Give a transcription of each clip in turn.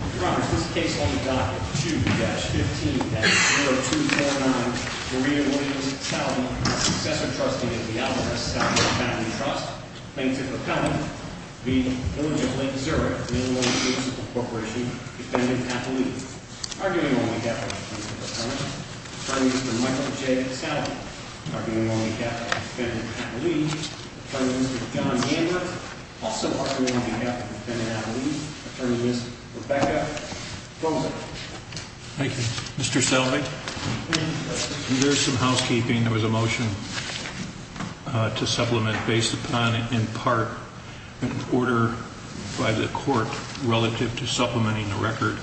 2-15-0249 Maria Williams-Salvi, successor trustee of the Alvarez-Salvi Family Trust, plaintiff-appellant v. Village of Lake Zurich, Illinois Municipal Corporation, defendant-appellee. Arguing on behalf of the plaintiff-appellant, Attorney Mr. Michael J. Salvi. Arguing on behalf of the defendant-appellee, Attorney Mr. John Yambert. Also arguing on behalf of the defendant-appellee, Attorney Ms. Rebecca Fosler. Thank you. Mr. Salvi, there is some housekeeping. There was a motion to supplement based upon, in part, an order by the court relative to supplementing the record.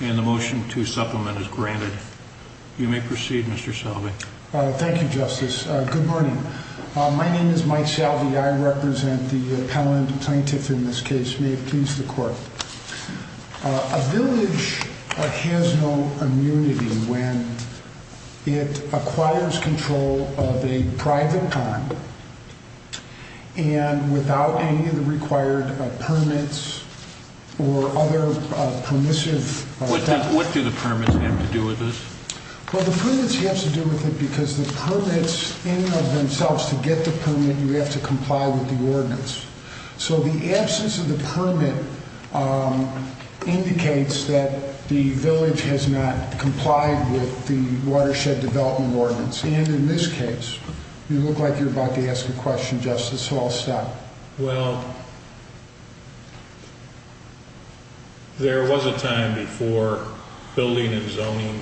And the motion to supplement is granted. You may proceed, Mr. Salvi. Thank you, Justice. Good morning. My name is Mike Salvi. I represent the appellant plaintiff in this case. May it please the court. A village has no immunity when it acquires control of a private farm and without any of the required permits or other permissive... What do the permits have to do with this? Well, the permits have to do with it because the permits in and of themselves, to get the permit, you have to comply with the ordinance. So the absence of the permit indicates that the village has not complied with the Watershed Development Ordinance. And in this case, you look like you're about to ask a question, Justice Halstead. Well, there was a time before building and zoning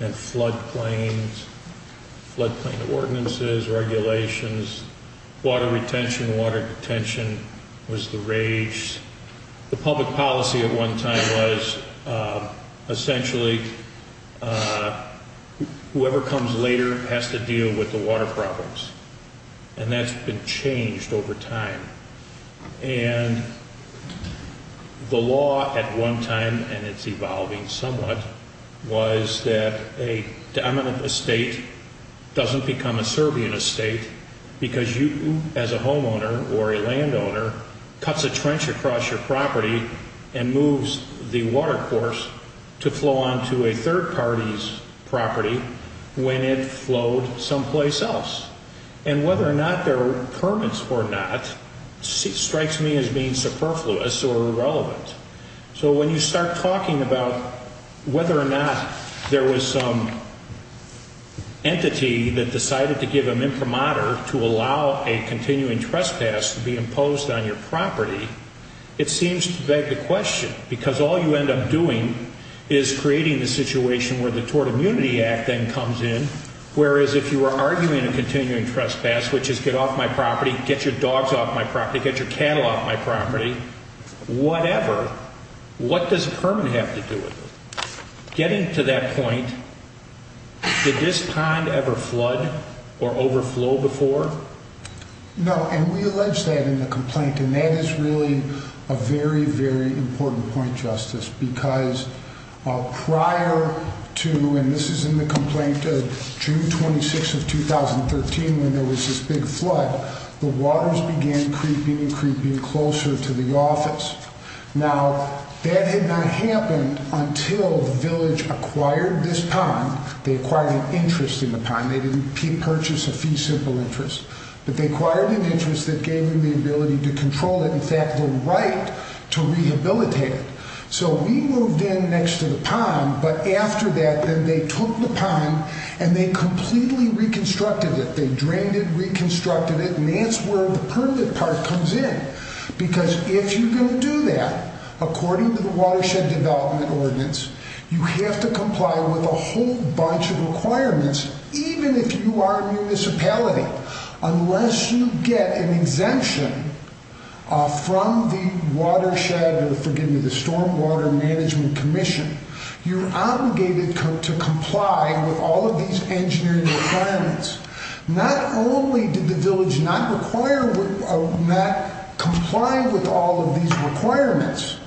and floodplains, floodplain ordinances, regulations, water retention, water detention was the rage. The public policy at one time was essentially whoever comes later has to deal with the water problems. And that's been changed over time. And the law at one time, and it's evolving somewhat, was that a dominant estate doesn't become a Serbian estate because you, as a homeowner or a landowner, cuts a trench across your property and moves the watercourse to flow onto a third party's property when it flowed someplace else. And whether or not there are permits or not strikes me as being superfluous or irrelevant. So when you start talking about whether or not there was some entity that decided to give them imprimatur to allow a continuing trespass to be imposed on your property, it seems to beg the question because all you end up doing is creating the situation where the Tort Immunity Act then comes in. Whereas if you were arguing a continuing trespass, which is get off my property, get your dogs off my property, get your cattle off my property, whatever, what does a permit have to do with it? Getting to that point, did this pond ever flood or overflow before? No, and we allege that in the complaint. And that is really a very, very important point, Justice, because prior to, and this is in the complaint of June 26 of 2013 when there was this big flood, the waters began creeping and creeping closer to the office. Now, that had not happened until the village acquired this pond. They acquired an interest in the pond. They didn't purchase a fee simple interest, but they acquired an interest that gave them the ability to control it, in fact, the right to rehabilitate it. So we moved in next to the pond, but after that, then they took the pond and they completely reconstructed it. They drained it, reconstructed it, and that's where the permit part comes in. Because if you're going to do that, according to the Watershed Development Ordinance, you have to comply with a whole bunch of requirements, even if you are a municipality. Unless you get an exemption from the watershed, or forgive me, the Stormwater Management Commission, you're obligated to comply with all of these engineering requirements. Not only did the village not comply with all of these requirements,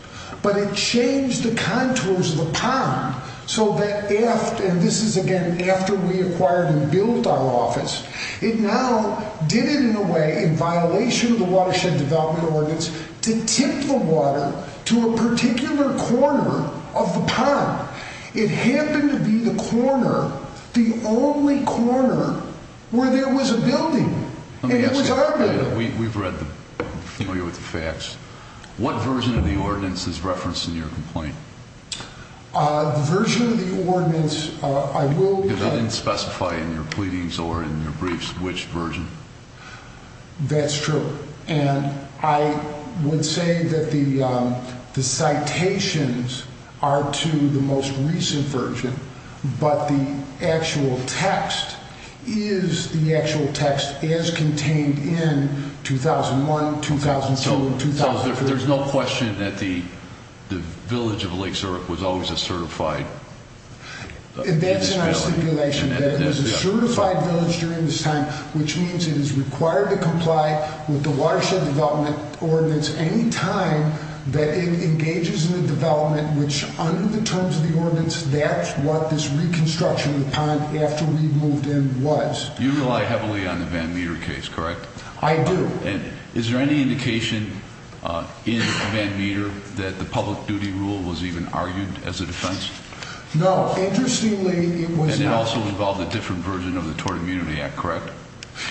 but it changed the contours of the pond so that after, and this is again after we acquired and built our office, it now did it in a way, in violation of the Watershed Development Ordinance, to tip the water to a particular corner of the pond. It happened to be the corner, the only corner, where there was a building, and it was our building. Let me ask you, we've read the, familiar with the facts, what version of the ordinance is referenced in your complaint? The version of the ordinance, I will... Because I didn't specify in your pleadings or in your briefs which version. That's true, and I would say that the citations are to the most recent version, but the actual text is the actual text as contained in 2001, 2002, and 2003. So there's no question that the village of Lake Zurich was always a certified... That's not a stipulation, that it was a certified village during this time, which means it is required to comply with the Watershed Development Ordinance any time that it engages in the development, which under the terms of the ordinance, that's what this reconstruction of the pond after we moved in was. You rely heavily on the Van Meter case, correct? I do. Is there any indication in Van Meter that the public duty rule was even argued as a defense? No, interestingly, it was not. And it also involved a different version of the Tort Immunity Act, correct?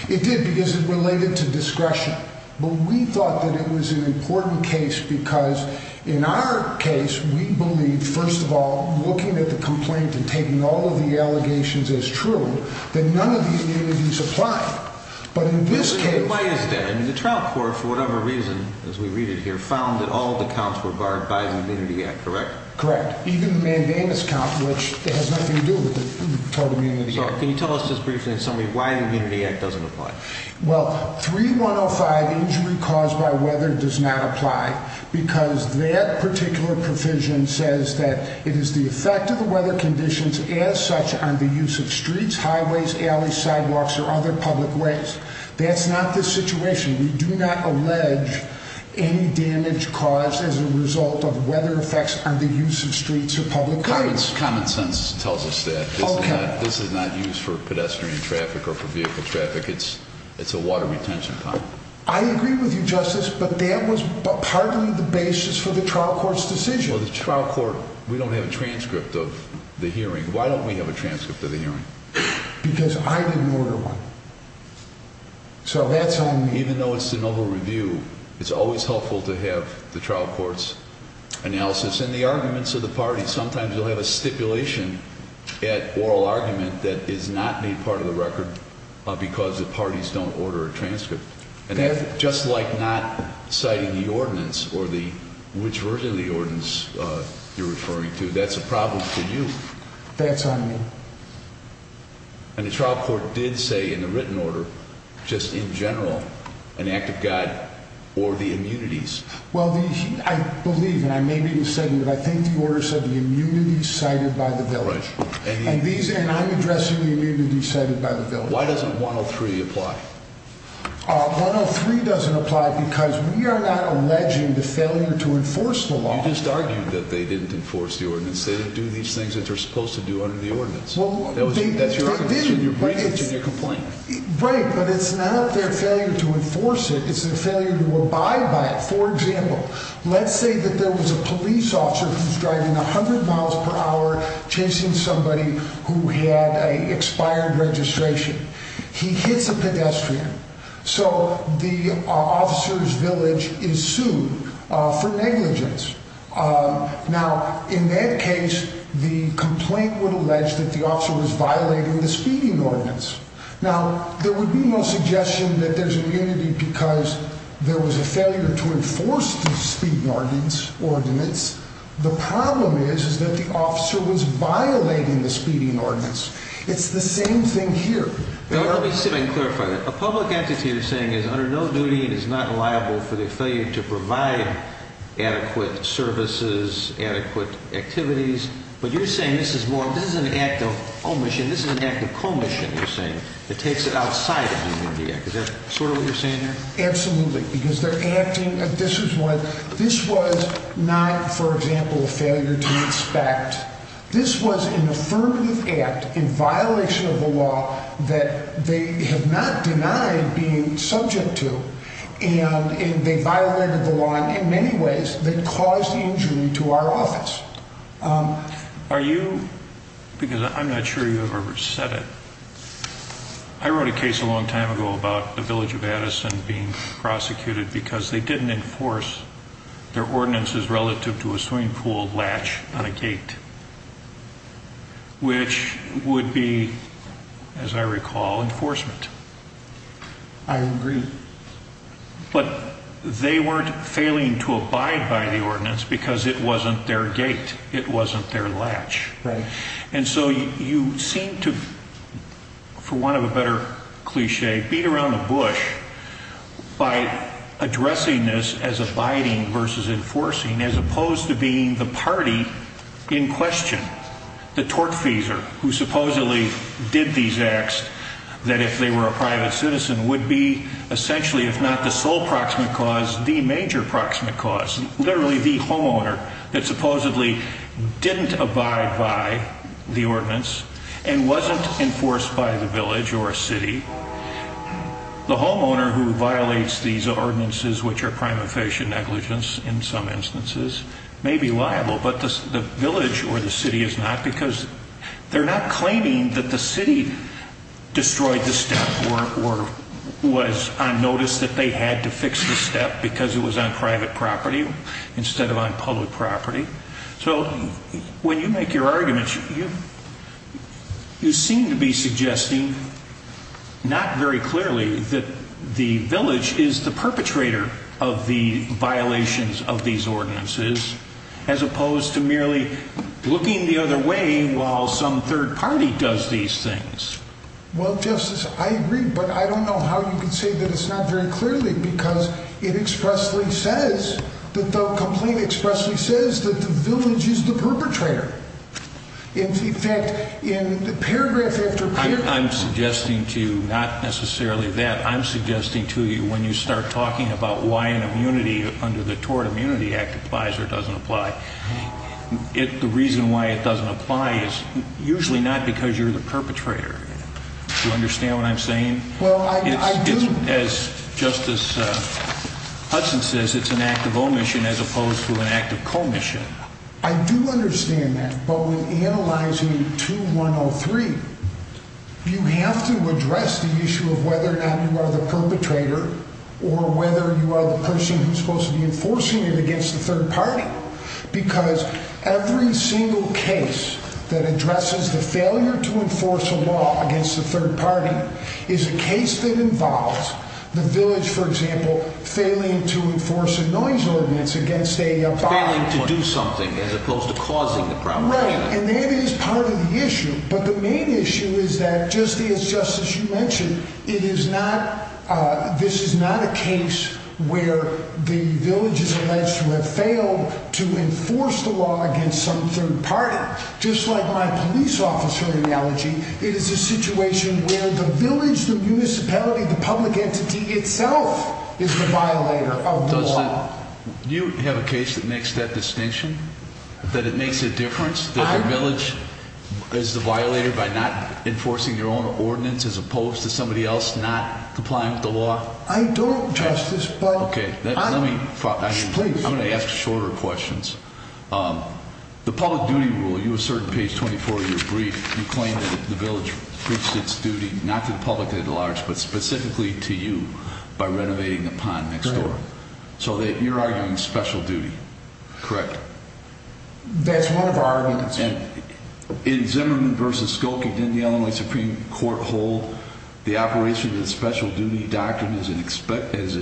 It did, because it related to discretion. But we thought that it was an important case because in our case, we believe, first of all, looking at the complaint and taking all of the allegations as true, that none of the immunities apply. But in this case... The complaint is there, and the trial court, for whatever reason, as we read it here, found that all of the counts were barred by the Immunity Act, correct? Correct. Even the Mandamus count, which has nothing to do with the Tort Immunity Act. Can you tell us just briefly in summary why the Immunity Act doesn't apply? Well, 3105, injury caused by weather, does not apply because that particular provision says that it is the effect of the weather conditions as such on the use of streets, highways, alleys, sidewalks, or other public ways. That's not the situation. We do not allege any damage caused as a result of weather effects on the use of streets or public areas. Common sense tells us that. Okay. This is not used for pedestrian traffic or for vehicle traffic. It's a water retention pond. I agree with you, Justice, but that was partly the basis for the trial court's decision. Well, the trial court, we don't have a transcript of the hearing. Why don't we have a transcript of the hearing? Because I didn't order one. So that's on me. Even though it's the noble review, it's always helpful to have the trial court's analysis and the arguments of the parties. Sometimes you'll have a stipulation at oral argument that is not a part of the record because the parties don't order a transcript. And that's just like not citing the ordinance or which version of the ordinance you're referring to. That's a problem for you. That's on me. And the trial court did say in the written order, just in general, an act of God or the immunities. Well, I believe, and I may be mistaken, but I think the order said the immunities cited by the village. And I'm addressing the immunities cited by the village. Why doesn't 103 apply? 103 doesn't apply because we are not alleging the failure to enforce the law. You just argued that they didn't enforce the ordinance. They didn't do these things that they're supposed to do under the ordinance. That's your argument. You're bringing it to your complaint. Right, but it's not their failure to enforce it. It's their failure to abide by it. For example, let's say that there was a police officer who's driving 100 miles per hour chasing somebody who had an expired registration. He hits a pedestrian. So the officer's village is sued for negligence. Now, in that case, the complaint would allege that the officer was violating the speeding ordinance. Now, there would be no suggestion that there's immunity because there was a failure to enforce the speeding ordinance. The problem is that the officer was violating the speeding ordinance. It's the same thing here. Let me sit and clarify that. A public entity you're saying is under no duty and is not liable for the failure to provide adequate services, adequate activities. But you're saying this is an act of omission. This is an act of commission, you're saying, that takes it outside of the immunity act. Is that sort of what you're saying there? Absolutely, because they're acting. This was not, for example, a failure to inspect. This was an affirmative act in violation of the law that they have not denied being subject to. And they violated the law in many ways that caused the injury to our office. Are you, because I'm not sure you've ever said it, I wrote a case a long time ago about the village of Addison being prosecuted because they didn't enforce their ordinances relative to a swimming pool latch on a gate, which would be, as I recall, enforcement. I agree. But they weren't failing to abide by the ordinance because it wasn't their gate. It wasn't their latch. And so you seem to, for want of a better cliche, beat around the bush by addressing this as abiding versus enforcing, as opposed to being the party in question, the tortfeasor who supposedly did these acts, that if they were a private citizen would be essentially, if not the sole proximate cause, the major proximate cause, literally the homeowner that supposedly didn't abide by the ordinance and wasn't enforced by the village or a city. The homeowner who violates these ordinances, which are prima facie negligence in some instances, may be liable, but the village or the city is not because they're not claiming that the city destroyed the step or was on notice that they had to fix the step because it was on private property instead of on public property. So when you make your arguments, you seem to be suggesting, not very clearly, that the village is the perpetrator of the violations of these ordinances, as opposed to merely looking the other way while some third party does these things. Well, Justice, I agree, but I don't know how you can say that it's not very clearly because it expressly says that the complaint expressly says that the village is the perpetrator. In fact, in paragraph after paragraph... I'm suggesting to you not necessarily that. I'm suggesting to you when you start talking about why an immunity under the Tort Immunity Act applies or doesn't apply, the reason why it doesn't apply is usually not because you're the perpetrator. Do you understand what I'm saying? Well, I do. As Justice Hudson says, it's an act of omission as opposed to an act of commission. I do understand that, but when analyzing 2103, you have to address the issue of whether or not you are the perpetrator or whether you are the person who's supposed to be enforcing it against the third party because every single case that addresses the failure to enforce a law against the third party is a case that involves the village, for example, failing to enforce a noise ordinance against a... Failing to do something as opposed to causing the problem. Right, and that is part of the issue, but the main issue is that, just as Justice, you mentioned, it is not... This is not a case where the village is alleged to have failed to enforce the law against some third party. Just like my police officer analogy, it is a situation where the village, the municipality, the public entity itself is the violator of the law. Do you have a case that makes that distinction? That it makes a difference? That the village is the violator by not enforcing their own ordinance as opposed to somebody else not complying with the law? I don't, Justice, but... Okay, let me... Please. I'm going to ask shorter questions. The public duty rule, you assert in page 24 of your brief, you claim that the village preached its duty, not to the public at large, but specifically to you by renovating the pond next door. Correct. So you're arguing special duty, correct? That's one of our arguments. In Zimmerman v. Skokie, didn't the Illinois Supreme Court hold the operation of the special duty doctrine as an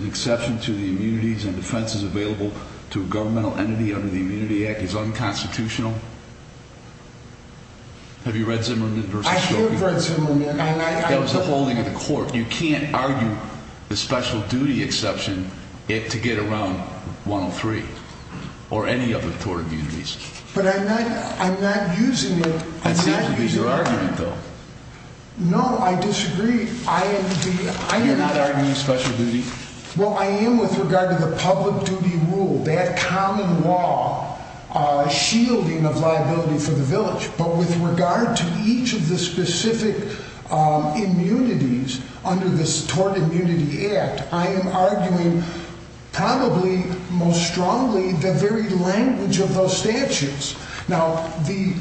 exception to the immunities and defenses available to a governmental entity under the Immunity Act is unconstitutional? Have you read Zimmerman v. Skokie? I have read Zimmerman. That was the holding of the court. You can't argue the special duty exception to get around 103 or any other tort immunities. But I'm not using the... That seems to be your argument, though. No, I disagree. You're not arguing special duty? Well, I am with regard to the public duty rule, that common law shielding of liability for the village. But with regard to each of the specific immunities under the Tort Immunity Act, I am arguing probably most strongly the very language of those statutes. Now, the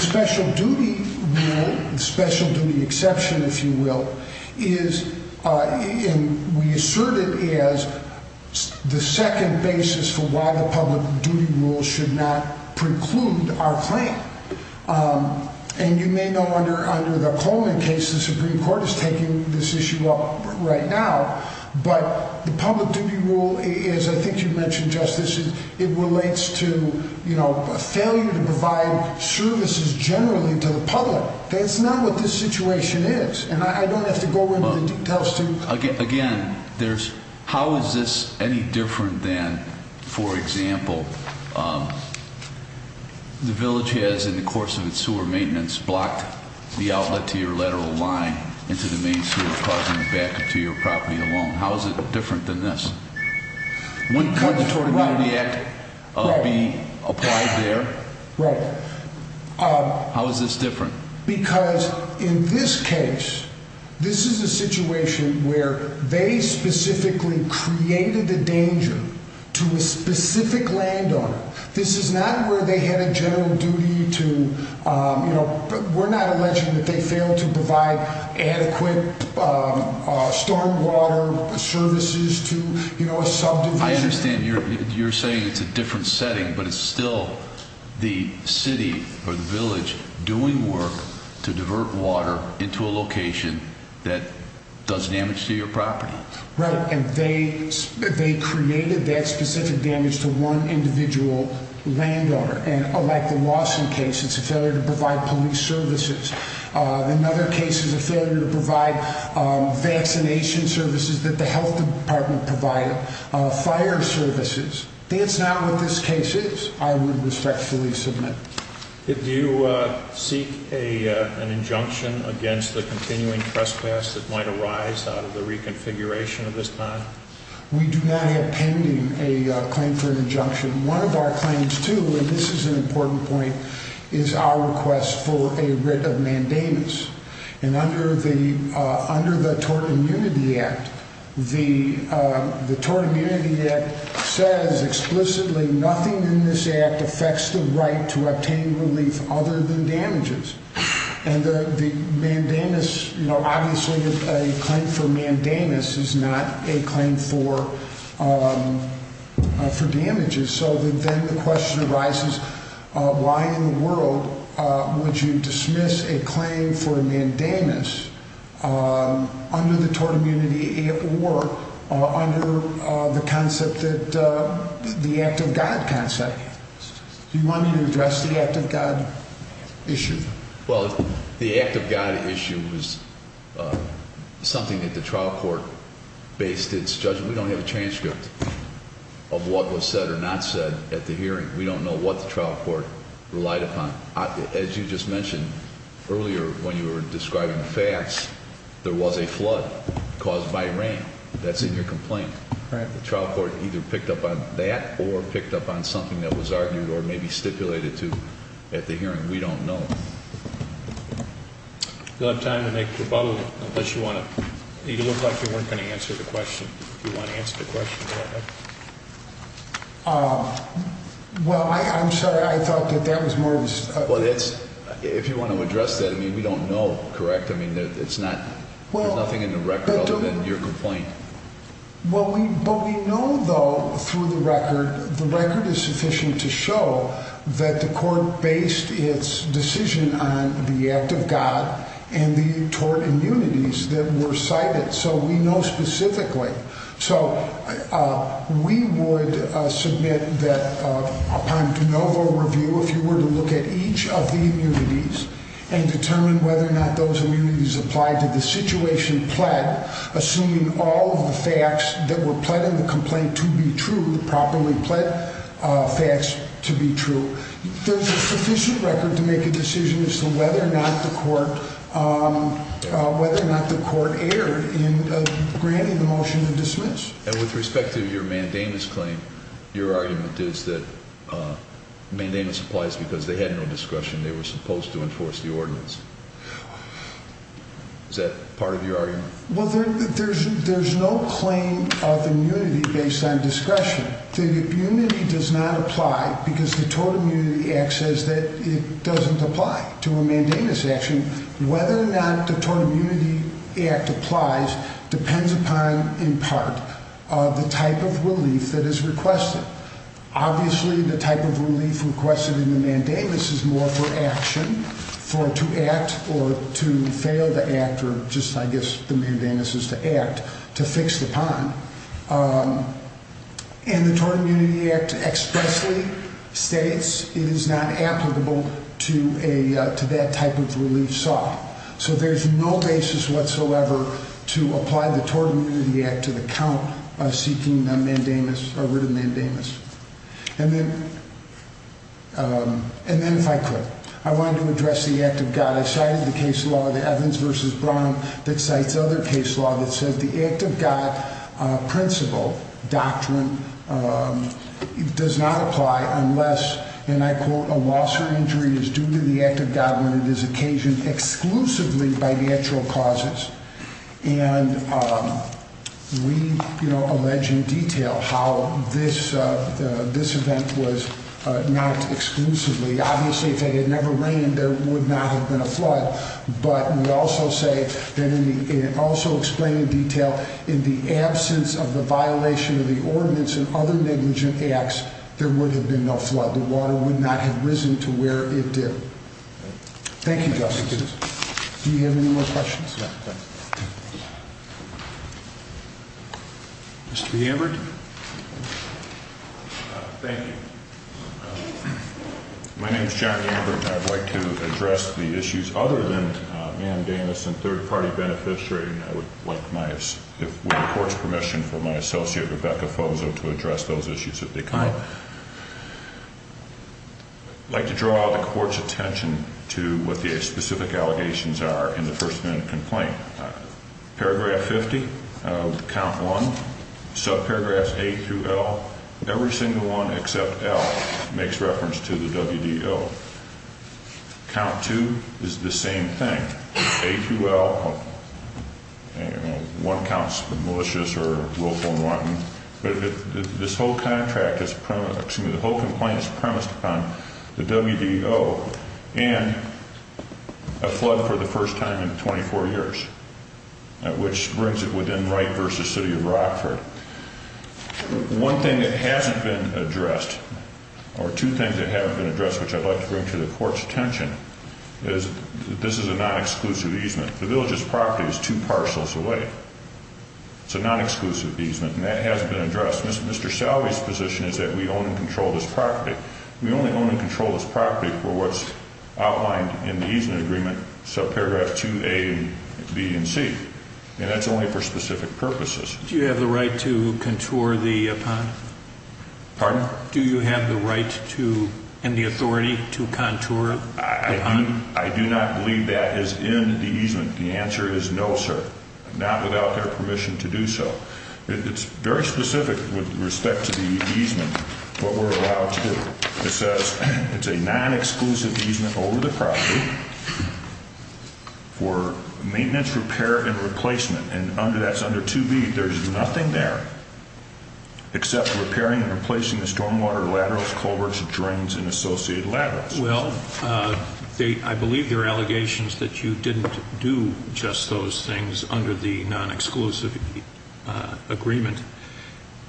special duty rule, the special duty exception, if you will, we assert it as the second basis for why the public duty rule should not preclude our claim. And you may know under the Coleman case, the Supreme Court is taking this issue up right now. But the public duty rule, as I think you mentioned, Justice, it relates to a failure to provide services generally to the public. That's not what this situation is. And I don't have to go into the details to... Again, how is this any different than, for example, the village has, in the course of its sewer maintenance, blocked the outlet to your lateral line into the main sewer causing a backup to your property alone. How is it different than this? Wouldn't the Tort Immunity Act be applied there? Right. How is this different? Because in this case, this is a situation where they specifically created the danger to a specific landowner. This is not where they had a general duty to, you know, we're not alleging that they failed to provide adequate stormwater services to, you know, a subdivision. I understand you're saying it's a different setting, but it's still the city or the village doing work to divert water into a location that does damage to your property. Right. And they created that specific damage to one individual landowner. And like the Lawson case, it's a failure to provide police services. Another case is a failure to provide vaccination services that the health department provided, fire services. That's not what this case is, I would respectfully submit. Did you seek an injunction against the continuing trespass that might arise out of the reconfiguration at this time? We do not have pending a claim for an injunction. One of our claims, too, and this is an important point, is our request for a writ of mandamus. And under the Tort Immunity Act, the Tort Immunity Act says explicitly nothing in this act affects the right to obtain relief other than damages. And the mandamus, you know, obviously a claim for mandamus is not a claim for damages. So then the question arises, why in the world would you dismiss a claim for a mandamus under the Tort Immunity Act or under the concept that the Act of God concept? Do you want me to address the Act of God issue? Well, the Act of God issue was something that the trial court based its judgment. We don't have a transcript of what was said or not said at the hearing. We don't know what the trial court relied upon. As you just mentioned, earlier when you were describing facts, there was a flood caused by rain. That's in your complaint. The trial court either picked up on that or picked up on something that was argued or maybe stipulated to at the hearing. We don't know. You'll have time to make your follow-up unless you want to. It looked like you weren't going to answer the question. If you want to answer the question, go ahead. Well, I'm sorry. I thought that that was more of a... Well, if you want to address that, I mean, we don't know, correct? I mean, there's nothing in the record other than your complaint. Well, we know, though, through the record, the record is sufficient to show that the court based its decision on the Act of God and the tort immunities that were cited, so we know specifically. So we would submit that upon de novo review, if you were to look at each of the immunities and determine whether or not those immunities applied to the situation pled, assuming all of the facts that were pled in the complaint to be true, the properly pled facts to be true, there's a sufficient record to make a decision as to whether or not the court erred in granting the motion to dismiss. And with respect to your mandamus claim, your argument is that mandamus applies because they had no discretion. They were supposed to enforce the ordinance. Is that part of your argument? Well, there's no claim of immunity based on discretion. The immunity does not apply because the Tort Immunity Act says that it doesn't apply to a mandamus action. Whether or not the Tort Immunity Act applies depends upon, in part, the type of relief that is requested. Obviously, the type of relief requested in the mandamus is more for action, for it to act or to fail the act, or just, I guess, the mandamus is to act, to fix the pond. And the Tort Immunity Act expressly states it is not applicable to that type of relief saw. So there's no basis whatsoever to apply the Tort Immunity Act to the count seeking a rid of mandamus. And then, if I could, I wanted to address the Act of God. I cited the case law, the Evans v. Brown, that cites other case law that says the Act of God principle, doctrine, does not apply unless, and I quote, a loss or injury is due to the Act of God when it is occasioned exclusively by natural causes. And we, you know, allege in detail how this event was not exclusively. Obviously, if it had never rained, there would not have been a flood. But we also say, and also explain in detail, in the absence of the violation of the ordinance and other negligent acts, there would have been no flood. The water would not have risen to where it did. Thank you, Justice. Do you have any more questions? Mr. Ambert? Thank you. My name is John Ambert. I'd like to address the issues other than mandamus and third-party beneficiary. I would, with the Court's permission from my associate, Rebecca Fozo, to address those issues if they come up. I'd like to draw the Court's attention to what the specific allegations are in the First Amendment complaint. Paragraph 50 of Count 1, subparagraphs A through L, every single one except L makes reference to the WDO. Count 2 is the same thing. A through L, one counts for malicious or willful and wanton. This whole complaint is premised upon the WDO and a flood for the first time in 24 years, which brings it within Wright v. City of Rockford. One thing that hasn't been addressed, or two things that haven't been addressed, which I'd like to bring to the Court's attention, is this is a non-exclusive easement. The village's property is two parcels away. It's a non-exclusive easement, and that hasn't been addressed. Mr. Salve's position is that we own and control this property. We only own and control this property for what's outlined in the easement agreement, subparagraphs 2A and B and C, and that's only for specific purposes. Do you have the right to contour the pond? Pardon? Do you have the right to and the authority to contour the pond? I do not believe that is in the easement. The answer is no, sir, not without their permission to do so. It's very specific with respect to the easement, what we're allowed to do. It says it's a non-exclusive easement over the property for maintenance, repair, and replacement, and that's under 2B. There's nothing there except repairing and replacing the stormwater laterals, culverts, drains, and associated laterals. Well, I believe there are allegations that you didn't do just those things under the non-exclusive agreement,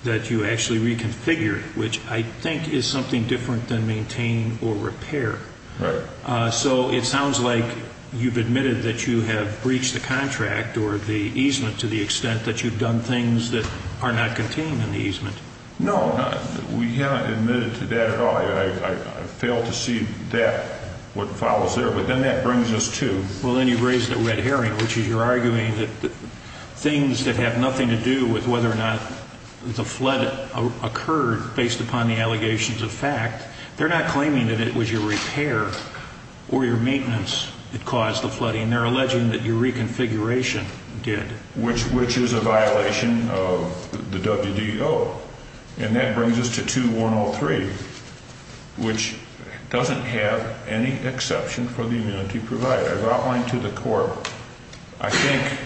that you actually reconfigured, which I think is something different than maintain or repair. Right. So it sounds like you've admitted that you have breached the contract or the easement to the extent that you've done things that are not contained in the easement. No, we haven't admitted to that at all. I fail to see that, what follows there. But then that brings us to? Well, then you raise the red herring, which is you're arguing that things that have nothing to do with whether or not the flood occurred based upon the allegations of fact, they're not claiming that it was your repair or your maintenance that caused the flooding. They're alleging that your reconfiguration did. Which is a violation of the WDO. And that brings us to 2-103, which doesn't have any exception for the immunity provided. I've outlined to the court, I think,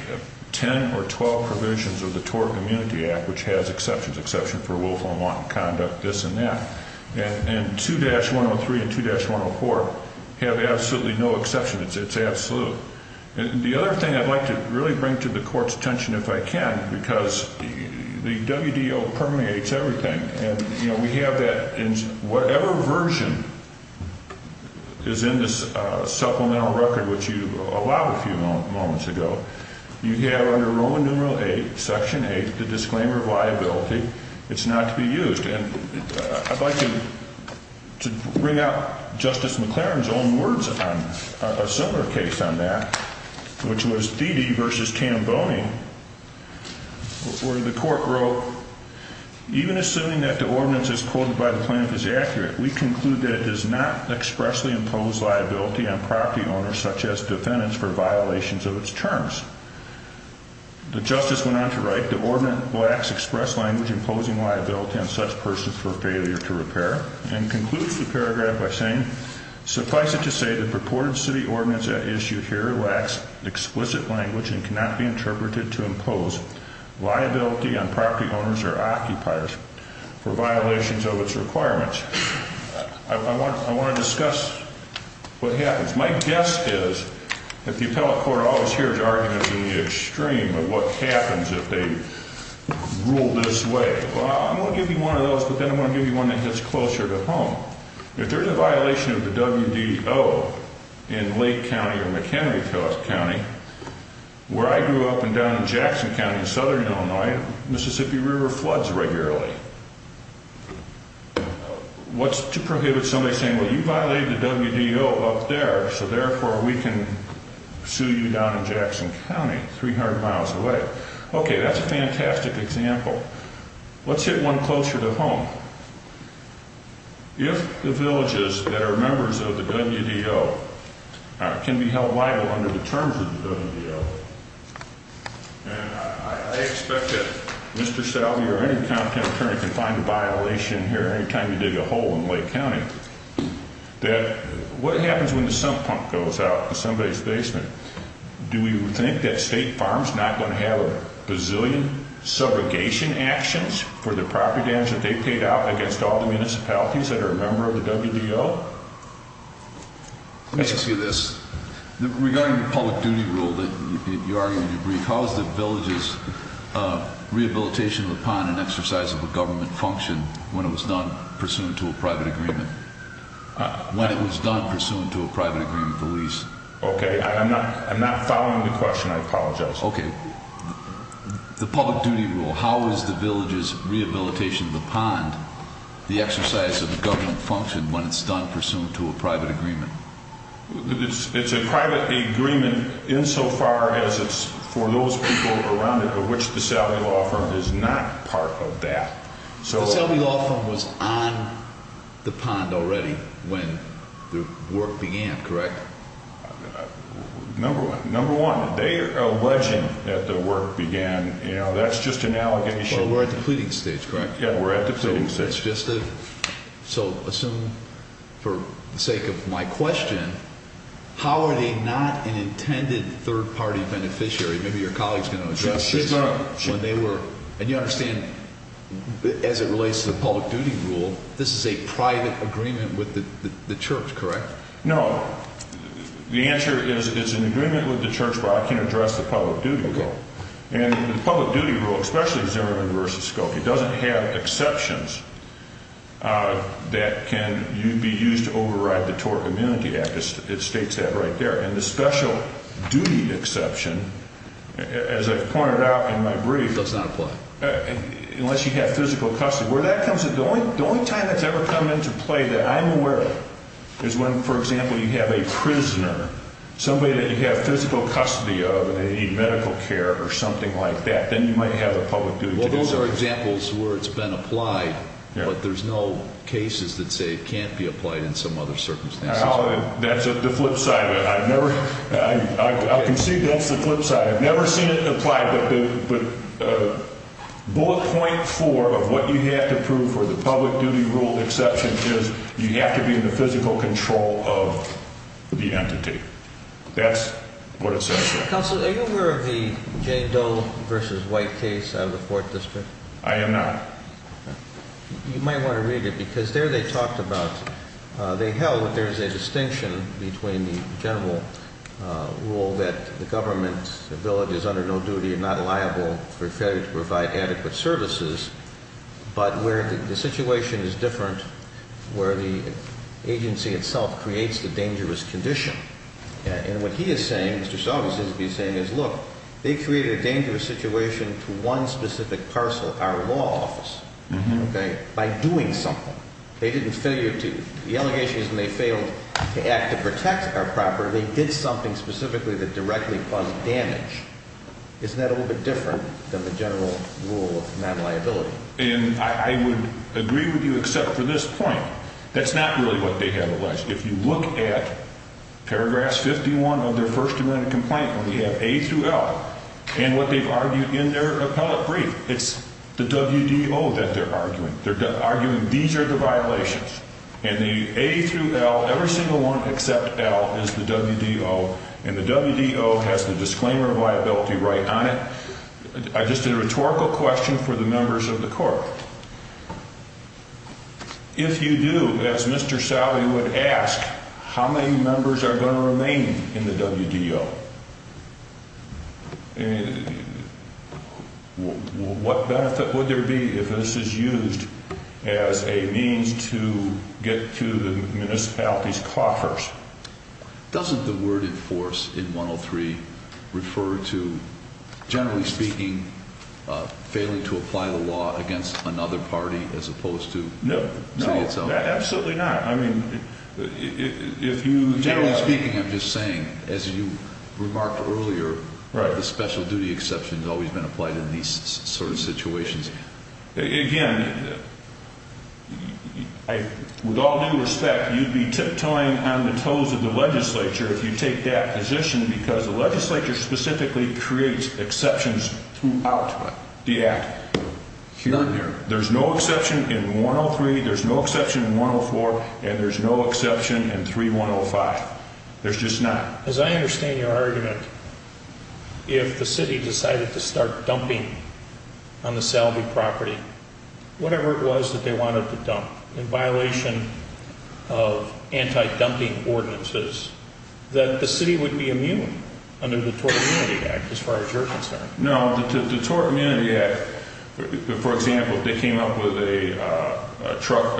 10 or 12 provisions of the TORP Immunity Act, which has exceptions, exception for willful and wanton conduct, this and that. And 2-103 and 2-104 have absolutely no exception. It's absolute. The other thing I'd like to really bring to the court's attention, if I can, because the WDO permeates everything. And, you know, we have that in whatever version is in this supplemental record, which you allowed a few moments ago. You have under Roman numeral 8, section 8, the disclaimer of liability. It's not to be used. I'd like to bring up Justice McLaren's own words on a similar case on that, which was Dede v. Tamboni, where the court wrote, Even assuming that the ordinance as quoted by the plaintiff is accurate, we conclude that it does not expressly impose liability on property owners, such as defendants, for violations of its terms. The justice went on to write, The ordinance lacks express language imposing liability on such persons for failure to repair, and concludes the paragraph by saying, Suffice it to say, the purported city ordinance at issue here lacks explicit language and cannot be interpreted to impose liability on property owners or occupiers for violations of its requirements. I want to discuss what happens. My guess is that the appellate court always hears arguments in the extreme of what happens if they rule this way. Well, I'm going to give you one of those, but then I'm going to give you one that gets closer to home. If there's a violation of the WDO in Lake County or McHenry County, where I grew up and down in Jackson County in southern Illinois, Mississippi River floods regularly, what's to prohibit somebody saying, well, you violated the WDO up there, so therefore we can sue you down in Jackson County, 300 miles away. Okay, that's a fantastic example. Let's hit one closer to home. If the villages that are members of the WDO can be held liable under the terms of the WDO, and I expect that Mr. Salvia or any competent attorney can find a violation here anytime you dig a hole in Lake County, that what happens when the sump pump goes out in somebody's basement? Do we think that State Farms is not going to have a bazillion segregation actions for the property damage that they paid out against all the municipalities that are a member of the WDO? Let me just ask you this. Regarding the public duty rule that you argued in your brief, how is the villages rehabilitation upon an exercise of a government function when it was done pursuant to a private agreement? When it was done pursuant to a private agreement, please. Okay, I'm not following the question. I apologize. Okay. The public duty rule, how is the villages rehabilitation upon the exercise of a government function when it's done pursuant to a private agreement? It's a private agreement insofar as it's for those people around it of which the Salvia Law Firm is not part of that. The Salvia Law Firm was on the pond already when the work began, correct? Number one, they are alleging that the work began. That's just an allegation. Well, we're at the pleading stage, correct? Yeah, we're at the pleading stage. So assume for the sake of my question, how are they not an intended third-party beneficiary? Maybe your colleague is going to address this. Sure. And you understand as it relates to the public duty rule, this is a private agreement with the church, correct? No. The answer is it's an agreement with the church, but I can't address the public duty rule. And the public duty rule, especially the Zimmerman v. Skokie, doesn't have exceptions that can be used to override the Tort Immunity Act. It states that right there. And the special duty exception, as I've pointed out in my brief, Does not apply. unless you have physical custody. The only time that's ever come into play that I'm aware of is when, for example, you have a prisoner, somebody that you have physical custody of and they need medical care or something like that, then you might have a public duty exception. Well, those are examples where it's been applied, but there's no cases that say it can't be applied in some other circumstances. That's the flip side of it. I've never – I concede that's the flip side. I've never seen it applied. But bullet point four of what you have to prove for the public duty rule exception is you have to be in the physical control of the entity. That's what it says here. Counsel, are you aware of the Jay Doe v. White case out of the 4th District? I am not. You might want to read it because there they talked about – they held that there's a distinction between the general rule that the government's ability is under no duty and not liable for failure to provide adequate services, but where the situation is different where the agency itself creates the dangerous condition. And what he is saying, Mr. Sullivan seems to be saying is, look, they created a dangerous situation to one specific parcel, our law office, by doing something. They didn't fail you to – the allegation is when they failed to act to protect our property, they did something specifically that directly caused damage. Isn't that a little bit different than the general rule of non-liability? And I would agree with you except for this point. That's not really what they have alleged. If you look at paragraph 51 of their first amendment complaint where we have A through L and what they've argued in their appellate brief, it's the WDO that they're arguing. They're arguing these are the violations. And the A through L, every single one except L, is the WDO. And the WDO has the disclaimer of liability right on it. Just a rhetorical question for the members of the court. If you do, as Mr. Sally would ask, how many members are going to remain in the WDO? What benefit would there be if this is used as a means to get to the municipalities' coffers? Doesn't the word enforce in 103 refer to, generally speaking, failing to apply the law against another party as opposed to – No, absolutely not. Generally speaking, I'm just saying, as you remarked earlier, the special duty exception has always been applied in these sort of situations. Again, with all due respect, you'd be tiptoeing on the toes of the legislature if you take that position because the legislature specifically creates exceptions throughout the act. There's no exception in 103, there's no exception in 104, and there's no exception in 3105. There's just not. As I understand your argument, if the city decided to start dumping on the Salvy property, whatever it was that they wanted to dump, in violation of anti-dumping ordinances, that the city would be immune under the Tort Immunity Act, as far as you're concerned. No, the Tort Immunity Act, for example, if they came up with a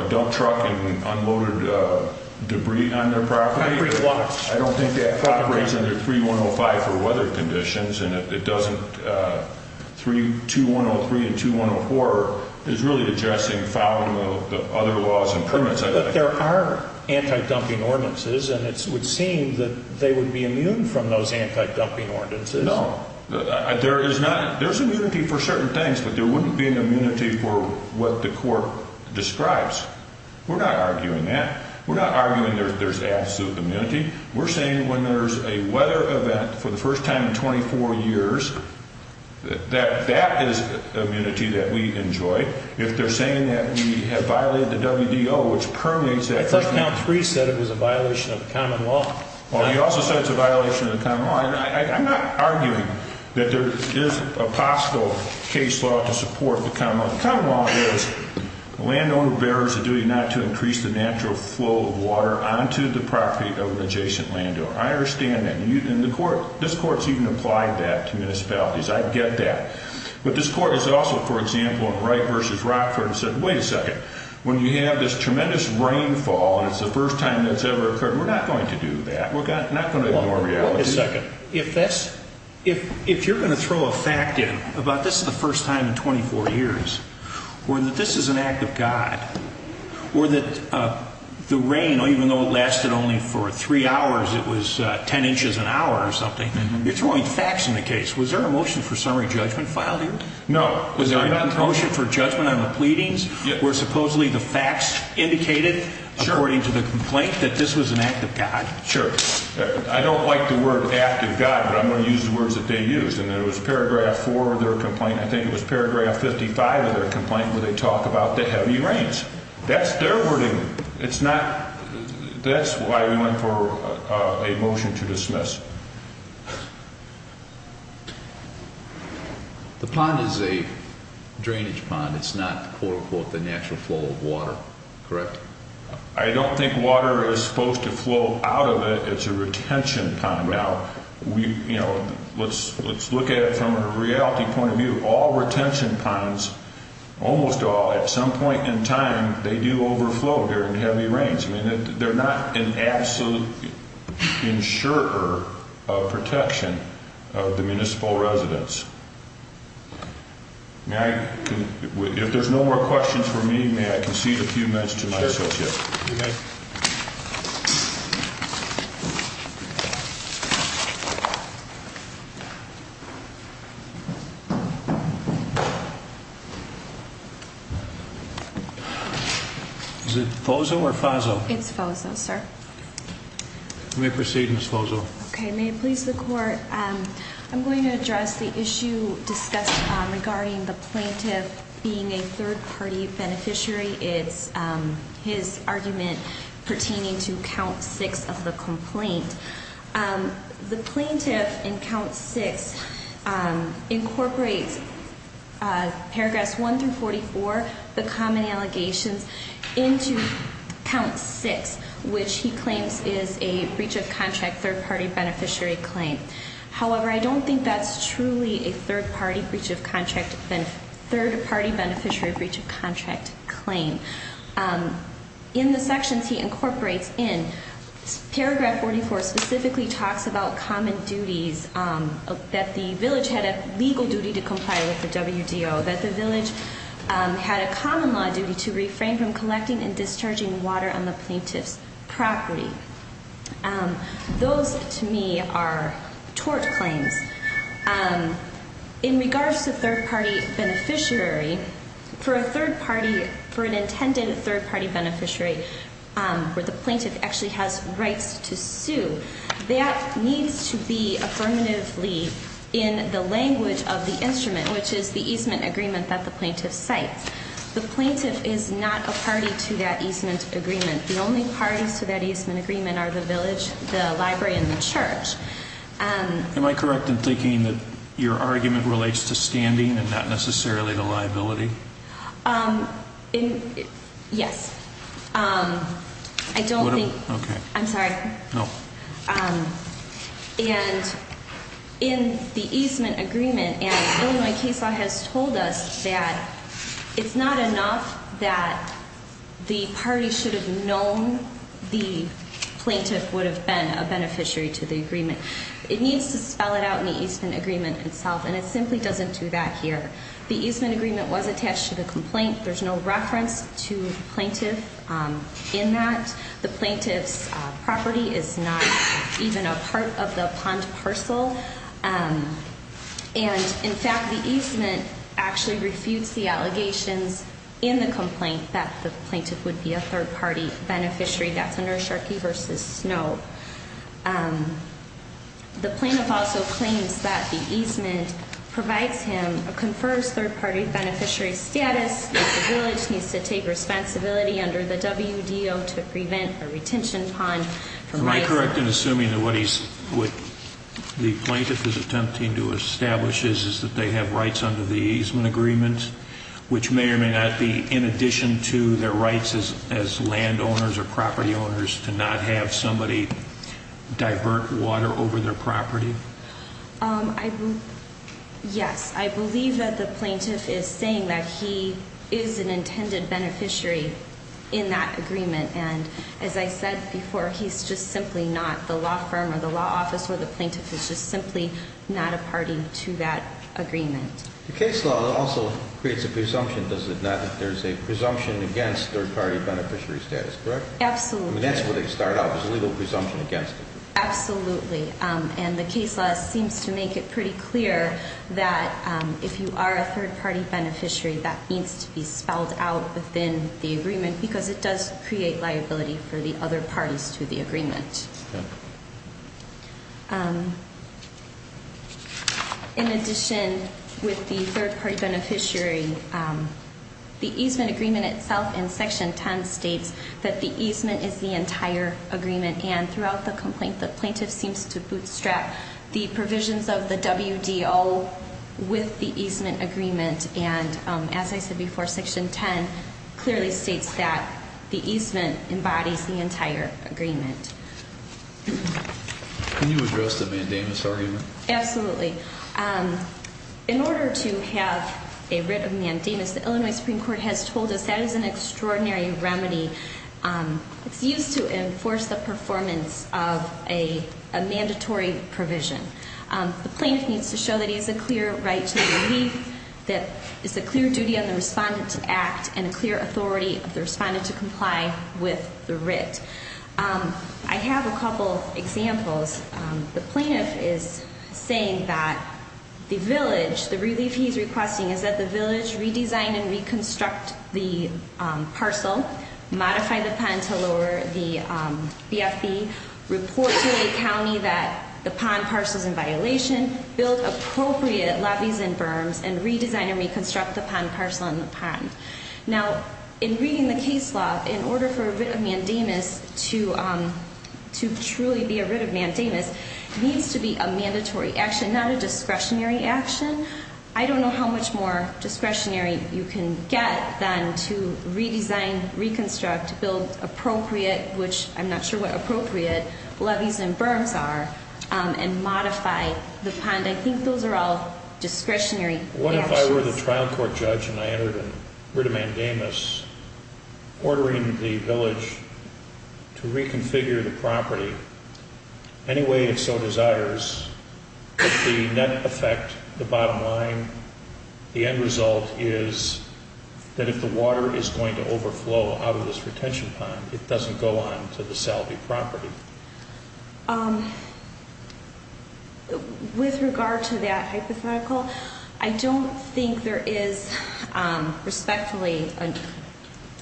dump truck and unloaded debris on their property, I don't think that property is under 3105 for weather conditions, and it doesn't – 2103 and 2104 is really addressing fouling of other laws and permits. But there are anti-dumping ordinances, and it would seem that they would be immune from those anti-dumping ordinances. No. There is not – there's immunity for certain things, but there wouldn't be an immunity for what the court describes. We're not arguing that. We're not arguing there's absolute immunity. We're saying when there's a weather event for the first time in 24 years, that that is immunity that we enjoy. If they're saying that we have violated the WDO, which permeates that first – I thought count three said it was a violation of the common law. Well, you also said it's a violation of the common law. I'm not arguing that there is a possible case law to support the common law. The common law is the landowner bears a duty not to increase the natural flow of water onto the property of an adjacent landowner. I understand that. And the court – this court's even applied that to municipalities. I get that. But this court has also, for example, in Wright v. Rockford, said, wait a second. When you have this tremendous rainfall and it's the first time it's ever occurred, we're not going to do that. We're not going to ignore reality. Wait a second. If that's – if you're going to throw a fact in about this is the first time in 24 years, or that this is an act of God, or that the rain, even though it lasted only for three hours, it was 10 inches an hour or something, you're throwing facts in the case. Was there a motion for summary judgment filed here? No. Was there a motion for judgment on the pleadings where supposedly the facts indicated, according to the complaint, that this was an act of God? Sure. I don't like the word act of God, but I'm going to use the words that they used. And there was paragraph 4 of their complaint – I think it was paragraph 55 of their complaint where they talk about the heavy rains. That's their wording. It's not – that's why we went for a motion to dismiss. The pond is a drainage pond. It's not, quote-unquote, the natural flow of water, correct? I don't think water is supposed to flow out of it. It's a retention pond. Now, let's look at it from a reality point of view. All retention ponds, almost all, at some point in time, they do overflow during heavy rains. I mean, they're not an absolute insurer of protection of the municipal residents. May I – if there's no more questions for me, may I concede a few minutes to my associate? Sure. Okay. Thank you. Is it FOSO or FAZO? It's FOSO, sir. May I proceed, Ms. FOSO? Okay. May it please the Court, I'm going to address the issue discussed regarding the plaintiff being a third-party beneficiary. It's his argument pertaining to Count 6 of the complaint. The plaintiff in Count 6 incorporates Paragraphs 1 through 44, the common allegations, into Count 6, which he claims is a breach of contract third-party beneficiary claim. However, I don't think that's truly a third-party breach of contract – third-party beneficiary breach of contract claim. In the sections he incorporates in, Paragraph 44 specifically talks about common duties, that the village had a legal duty to comply with the WDO, that the village had a common law duty to refrain from collecting and discharging water on the plaintiff's property. Those, to me, are tort claims. In regards to third-party beneficiary, for a third-party, for an intended third-party beneficiary, where the plaintiff actually has rights to sue, that needs to be affirmatively in the language of the instrument, which is the easement agreement that the plaintiff cites. The plaintiff is not a party to that easement agreement. The only parties to that easement agreement are the village, the library, and the church. Am I correct in thinking that your argument relates to standing and not necessarily the liability? Yes. I don't think – I'm sorry. No. And in the easement agreement, as Illinois case law has told us, that it's not enough that the party should have known the plaintiff would have been a beneficiary to the agreement. It needs to spell it out in the easement agreement itself, and it simply doesn't do that here. The easement agreement was attached to the complaint. There's no reference to the plaintiff in that. The plaintiff's property is not even a part of the pond parcel. And, in fact, the easement actually refutes the allegations in the complaint that the plaintiff would be a third-party beneficiary. That's under Sharkey v. Snow. The plaintiff also claims that the easement provides him, confers third-party beneficiary status, that the village needs to take responsibility under the WDO to prevent a retention pond. Am I correct in assuming that what the plaintiff is attempting to establish is that they have rights under the easement agreement, which may or may not be in addition to their rights as landowners or property owners to not have somebody divert water over their property? Yes. I believe that the plaintiff is saying that he is an intended beneficiary in that agreement. And, as I said before, he's just simply not the law firm or the law office or the plaintiff is just simply not a party to that agreement. The case law also creates a presumption, does it not, that there's a presumption against third-party beneficiary status, correct? Absolutely. I mean, that's where they start out, there's a legal presumption against it. Absolutely. And the case law seems to make it pretty clear that if you are a third-party beneficiary, that needs to be spelled out within the agreement because it does create liability for the other parties to the agreement. In addition, with the third-party beneficiary, the easement agreement itself in Section 10 states that the easement is the entire agreement and throughout the complaint, the plaintiff seems to bootstrap the provisions of the WDO with the easement agreement and, as I said before, Section 10 clearly states that the easement embodies the entire agreement. Can you address the mandamus argument? Absolutely. In order to have a writ of mandamus, the Illinois Supreme Court has told us that is an extraordinary remedy. It's used to enforce the performance of a mandatory provision. The plaintiff needs to show that he has a clear right to the relief, that it's a clear duty on the respondent to act, and a clear authority of the respondent to comply with the writ. I have a couple of examples. The plaintiff is saying that the village, the relief he's requesting, is that the village redesign and reconstruct the parcel, modify the pond to lower the BFB, report to a county that the pond parcel is in violation, build appropriate lobbies and berms, and redesign and reconstruct the pond parcel and the pond. Now, in reading the case law, in order for a writ of mandamus to truly be a writ of mandamus, it needs to be a mandatory action, not a discretionary action. I don't know how much more discretionary you can get than to redesign, reconstruct, build appropriate, which I'm not sure what appropriate, lobbies and berms are, and modify the pond. I think those are all discretionary actions. What if I were the trial court judge and I entered a writ of mandamus ordering the village to reconfigure the property any way it so desires? If the net effect, the bottom line, the end result, is that if the water is going to overflow out of this retention pond, it doesn't go on to the salvie property. With regard to that hypothetical, I don't think there is respectfully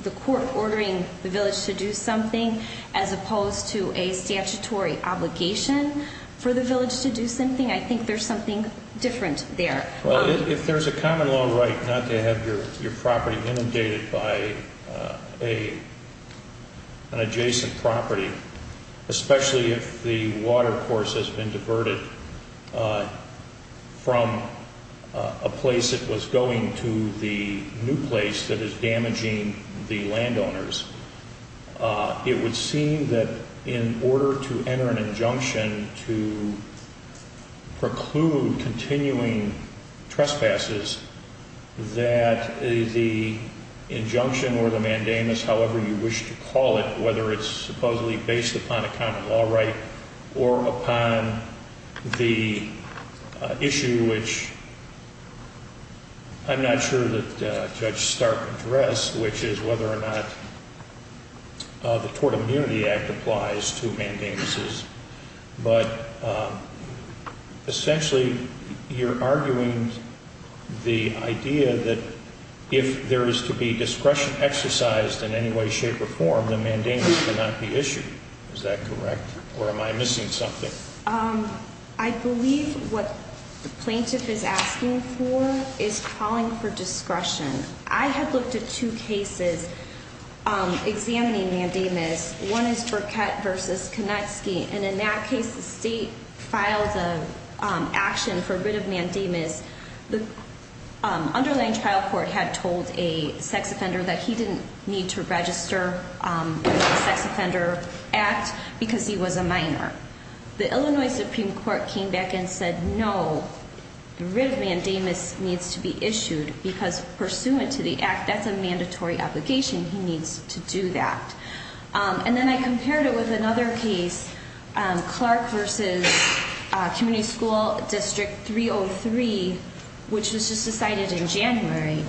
the court ordering the village to do something as opposed to a statutory obligation for the village to do something. I think there's something different there. If there's a common law right not to have your property inundated by an adjacent property, especially if the water course has been diverted from a place that was going to the new place that is damaging the landowners, it would seem that in order to enter an injunction to preclude continuing trespasses, that the injunction or the mandamus, however you wish to call it, whether it's supposedly based upon a common law right or upon the issue which I'm not sure that Judge Stark addressed, which is whether or not the Tort Immunity Act applies to mandamuses. But essentially you're arguing the idea that if there is to be discretion exercised in any way, shape, or form, the mandamus cannot be issued. Is that correct, or am I missing something? I believe what the plaintiff is asking for is calling for discretion. I have looked at two cases examining mandamus. One is Burkett v. Konetsky, and in that case the state filed an action for writ of mandamus. The underlying trial court had told a sex offender that he didn't need to register in the Sex Offender Act because he was a minor. The Illinois Supreme Court came back and said, no, the writ of mandamus needs to be issued because pursuant to the act, that's a mandatory obligation. He needs to do that. And then I compared it with another case, Clark v. Community School District 303, which was just decided in January,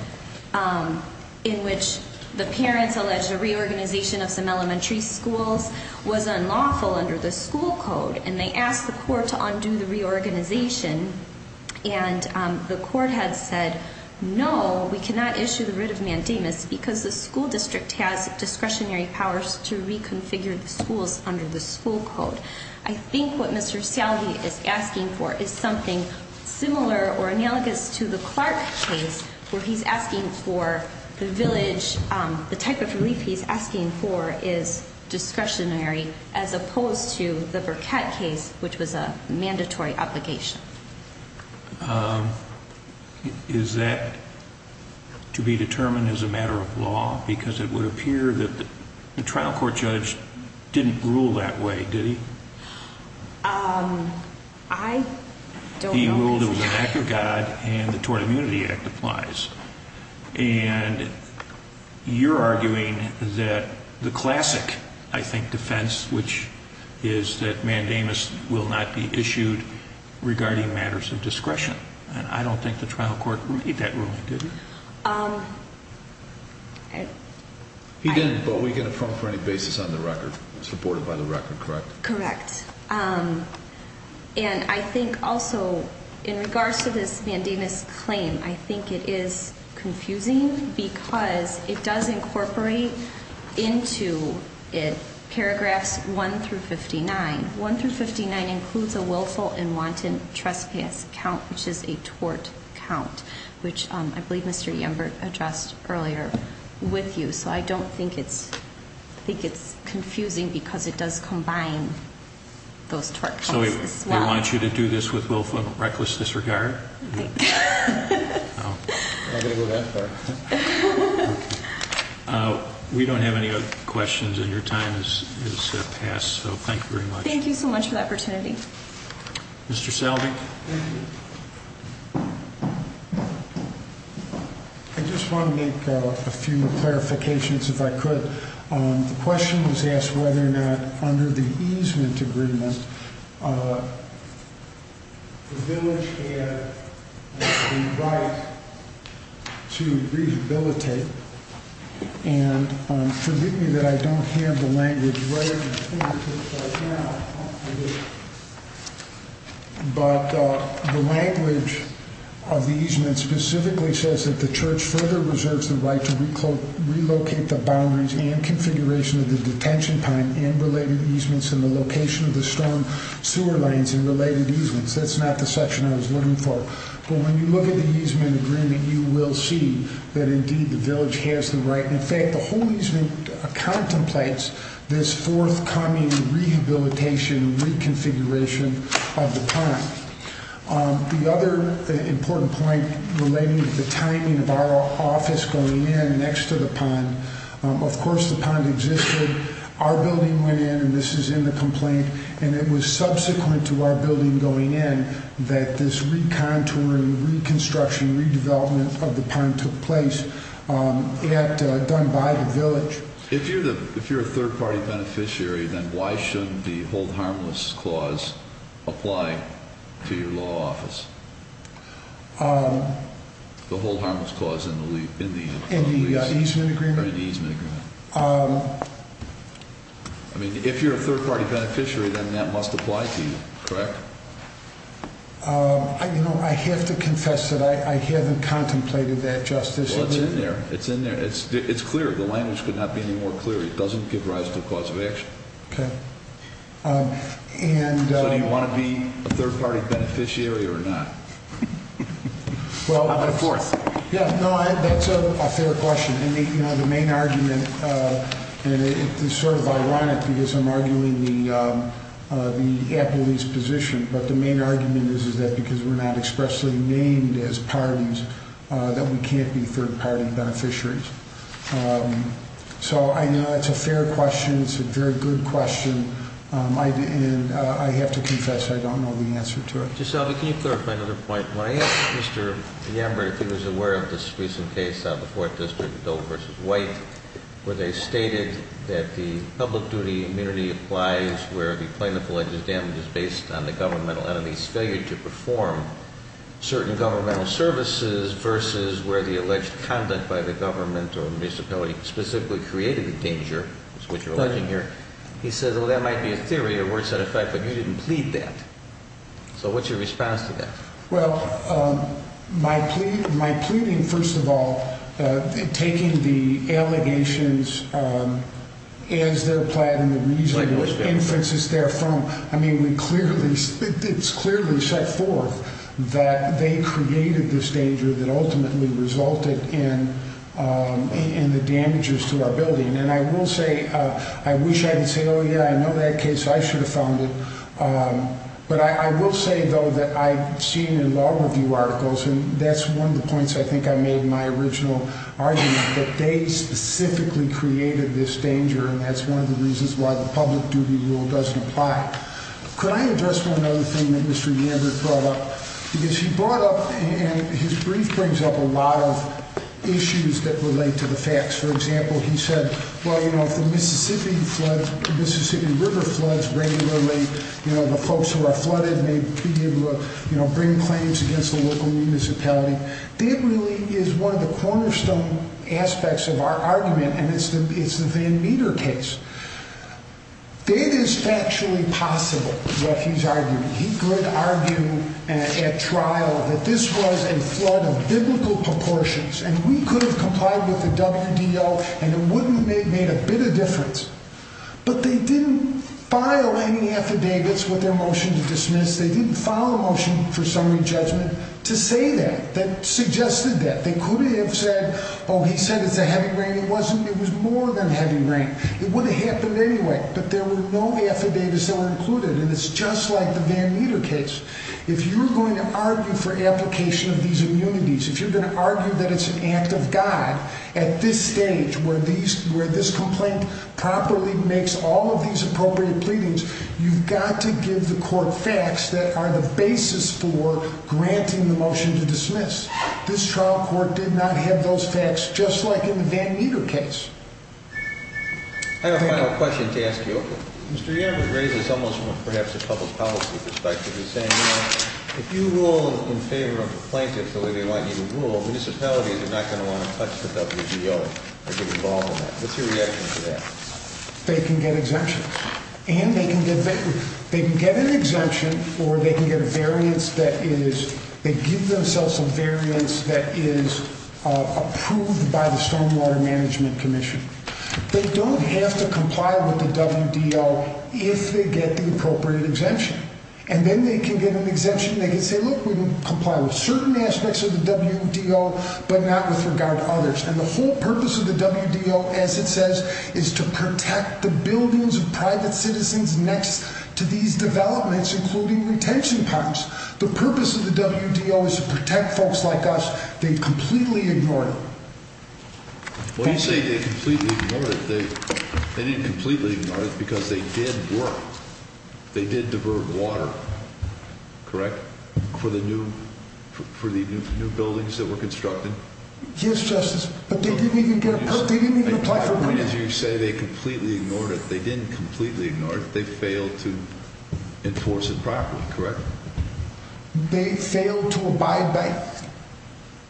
in which the parents alleged a reorganization of some elementary schools was unlawful under the school code, and they asked the court to undo the reorganization, and the court had said, no, we cannot issue the writ of mandamus because the school district has discretionary powers to reconfigure the schools under the school code. I think what Mr. Salve is asking for is something similar or analogous to the Clark case where he's asking for the village, the type of relief he's asking for is discretionary as opposed to the Burkett case, which was a mandatory obligation. Is that to be determined as a matter of law? Because it would appear that the trial court judge didn't rule that way, did he? I don't know. He ruled it was an act of God, and the Tort Immunity Act applies. And you're arguing that the classic, I think, defense, which is that mandamus will not be issued regarding matters of discretion, and I don't think the trial court made that ruling, did it? He didn't, but we can affirm for any basis on the record, supported by the record, correct? Correct. And I think also in regards to this mandamus claim, I think it is confusing because it does incorporate into it paragraphs 1 through 59. 1 through 59 includes a willful and wanton trespass count, which is a tort count, which I believe Mr. Yenberg addressed earlier with you. So I don't think it's confusing because it does combine those tort counts as well. So we want you to do this with willful and reckless disregard? Right. I didn't go that far. We don't have any other questions, and your time has passed, so thank you very much. Thank you so much for the opportunity. Mr. Selvig? Thank you. I just want to make a few more clarifications, if I could. The question was asked whether or not under the easement agreement the village had the right to rehabilitate, and forgive me that I don't have the language right in front of me right now, but the language of the easement specifically says that the church further reserves the right to relocate the boundaries and configuration of the detention pond and related easements in the location of the storm sewer lanes and related easements. That's not the section I was looking for. But when you look at the easement agreement, you will see that, indeed, the village has the right. In fact, the whole easement contemplates this forthcoming rehabilitation and reconfiguration of the pond. The other important point relating to the timing of our office going in next to the pond, of course the pond existed. Our building went in, and this is in the complaint, and it was subsequent to our building going in that this recontouring, reconstruction, redevelopment of the pond took place done by the village. If you're a third-party beneficiary, then why shouldn't the hold harmless clause apply to your law office? The hold harmless clause in the easement agreement? I mean, if you're a third-party beneficiary, then that must apply to you, correct? You know, I have to confess that I haven't contemplated that, Justice. Well, it's in there. It's in there. It's clear. The language could not be any more clear. It doesn't give rise to a cause of action. Okay. So do you want to be a third-party beneficiary or not? Well, of course. Yeah, no, that's a fair question. You know, the main argument, and it's sort of ironic because I'm arguing the appellee's position, but the main argument is that because we're not expressly named as parties that we can't be third-party beneficiaries. So I know that's a fair question. It's a very good question, and I have to confess I don't know the answer to it. Justice Albee, can you clarify another point? When I asked Mr. Yambert if he was aware of this recent case on the Fourth District, Doe v. White, where they stated that the public duty immunity applies where the plaintiff alleges damage is based on the governmental enemy's failure to perform certain governmental services versus where the alleged conduct by the government or municipality specifically created the danger, which is what you're alleging here, he said, well, that might be a theory or a word-set effect, but you didn't plead that. So what's your response to that? Well, my pleading, first of all, taking the allegations as they're applied and the reasonable inferences therefrom, I mean, it's clearly set forth that they created this danger that ultimately resulted in the damages to our building. And I will say, I wish I could say, oh, yeah, I know that case. I should have found it. But I will say, though, that I've seen in law review articles, and that's one of the points I think I made in my original argument, that they specifically created this danger, and that's one of the reasons why the public duty rule doesn't apply. Could I address one other thing that Mr. Yambert brought up? Because he brought up and his brief brings up a lot of issues that relate to the facts. For example, he said, well, you know, if the Mississippi River floods regularly, you know, the folks who are flooded may be able to bring claims against the local municipality. That really is one of the cornerstone aspects of our argument, and it's the Van Meter case. That is factually possible, what he's arguing. He could argue at trial that this was a flood of biblical proportions, and we could have complied with the WDO, and it wouldn't have made a bit of difference. But they didn't file any affidavits with their motion to dismiss. They didn't file a motion for summary judgment to say that, that suggested that. They could have said, oh, he said it's a heavy rain. It wasn't. It was more than heavy rain. It would have happened anyway, but there were no affidavits that were included, and it's just like the Van Meter case. If you're going to argue for application of these immunities, if you're going to argue that it's an act of God, at this stage where this complaint properly makes all of these appropriate pleadings, you've got to give the court facts that are the basis for granting the motion to dismiss. This trial court did not have those facts, just like in the Van Meter case. I have a final question to ask you. Mr. Yamaguchi raised this almost from perhaps a public policy perspective. He's saying, you know, if you rule in favor of the plaintiffs the way they want you to rule, municipalities are not going to want to touch the WDO or get involved in that. What's your reaction to that? They can get exemption, and they can get an exemption, or they can get a variance that is approved by the Stormwater Management Commission. They don't have to comply with the WDO if they get the appropriate exemption. And then they can get an exemption, and they can say, look, we can comply with certain aspects of the WDO, but not with regard to others. And the whole purpose of the WDO, as it says, is to protect the buildings of private citizens next to these developments, including retention parks. The purpose of the WDO is to protect folks like us. They completely ignored it. Well, you say they completely ignored it. They didn't completely ignore it because they did work. They did divert water, correct, for the new buildings that were constructed? Yes, Justice. But they didn't even get a permit. They didn't even apply for permits. I mean, as you say, they completely ignored it. They didn't completely ignore it. They failed to enforce it properly, correct? They failed to abide by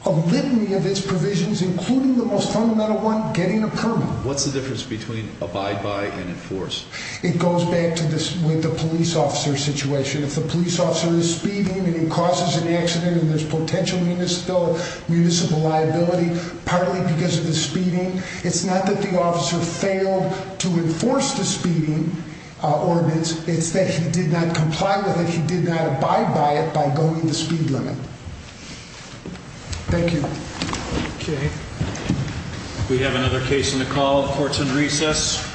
a litany of its provisions, including the most fundamental one, getting a permit. What's the difference between abide by and enforce? It goes back to the police officer situation. If the police officer is speeding and he causes an accident and there's potential municipal liability, partly because of the speeding, it's not that the officer failed to enforce the speeding ordinance. It's that he did not comply with it. He did not abide by it by going to the speed limit. Thank you. Okay. We have another case in the call. Court's in recess.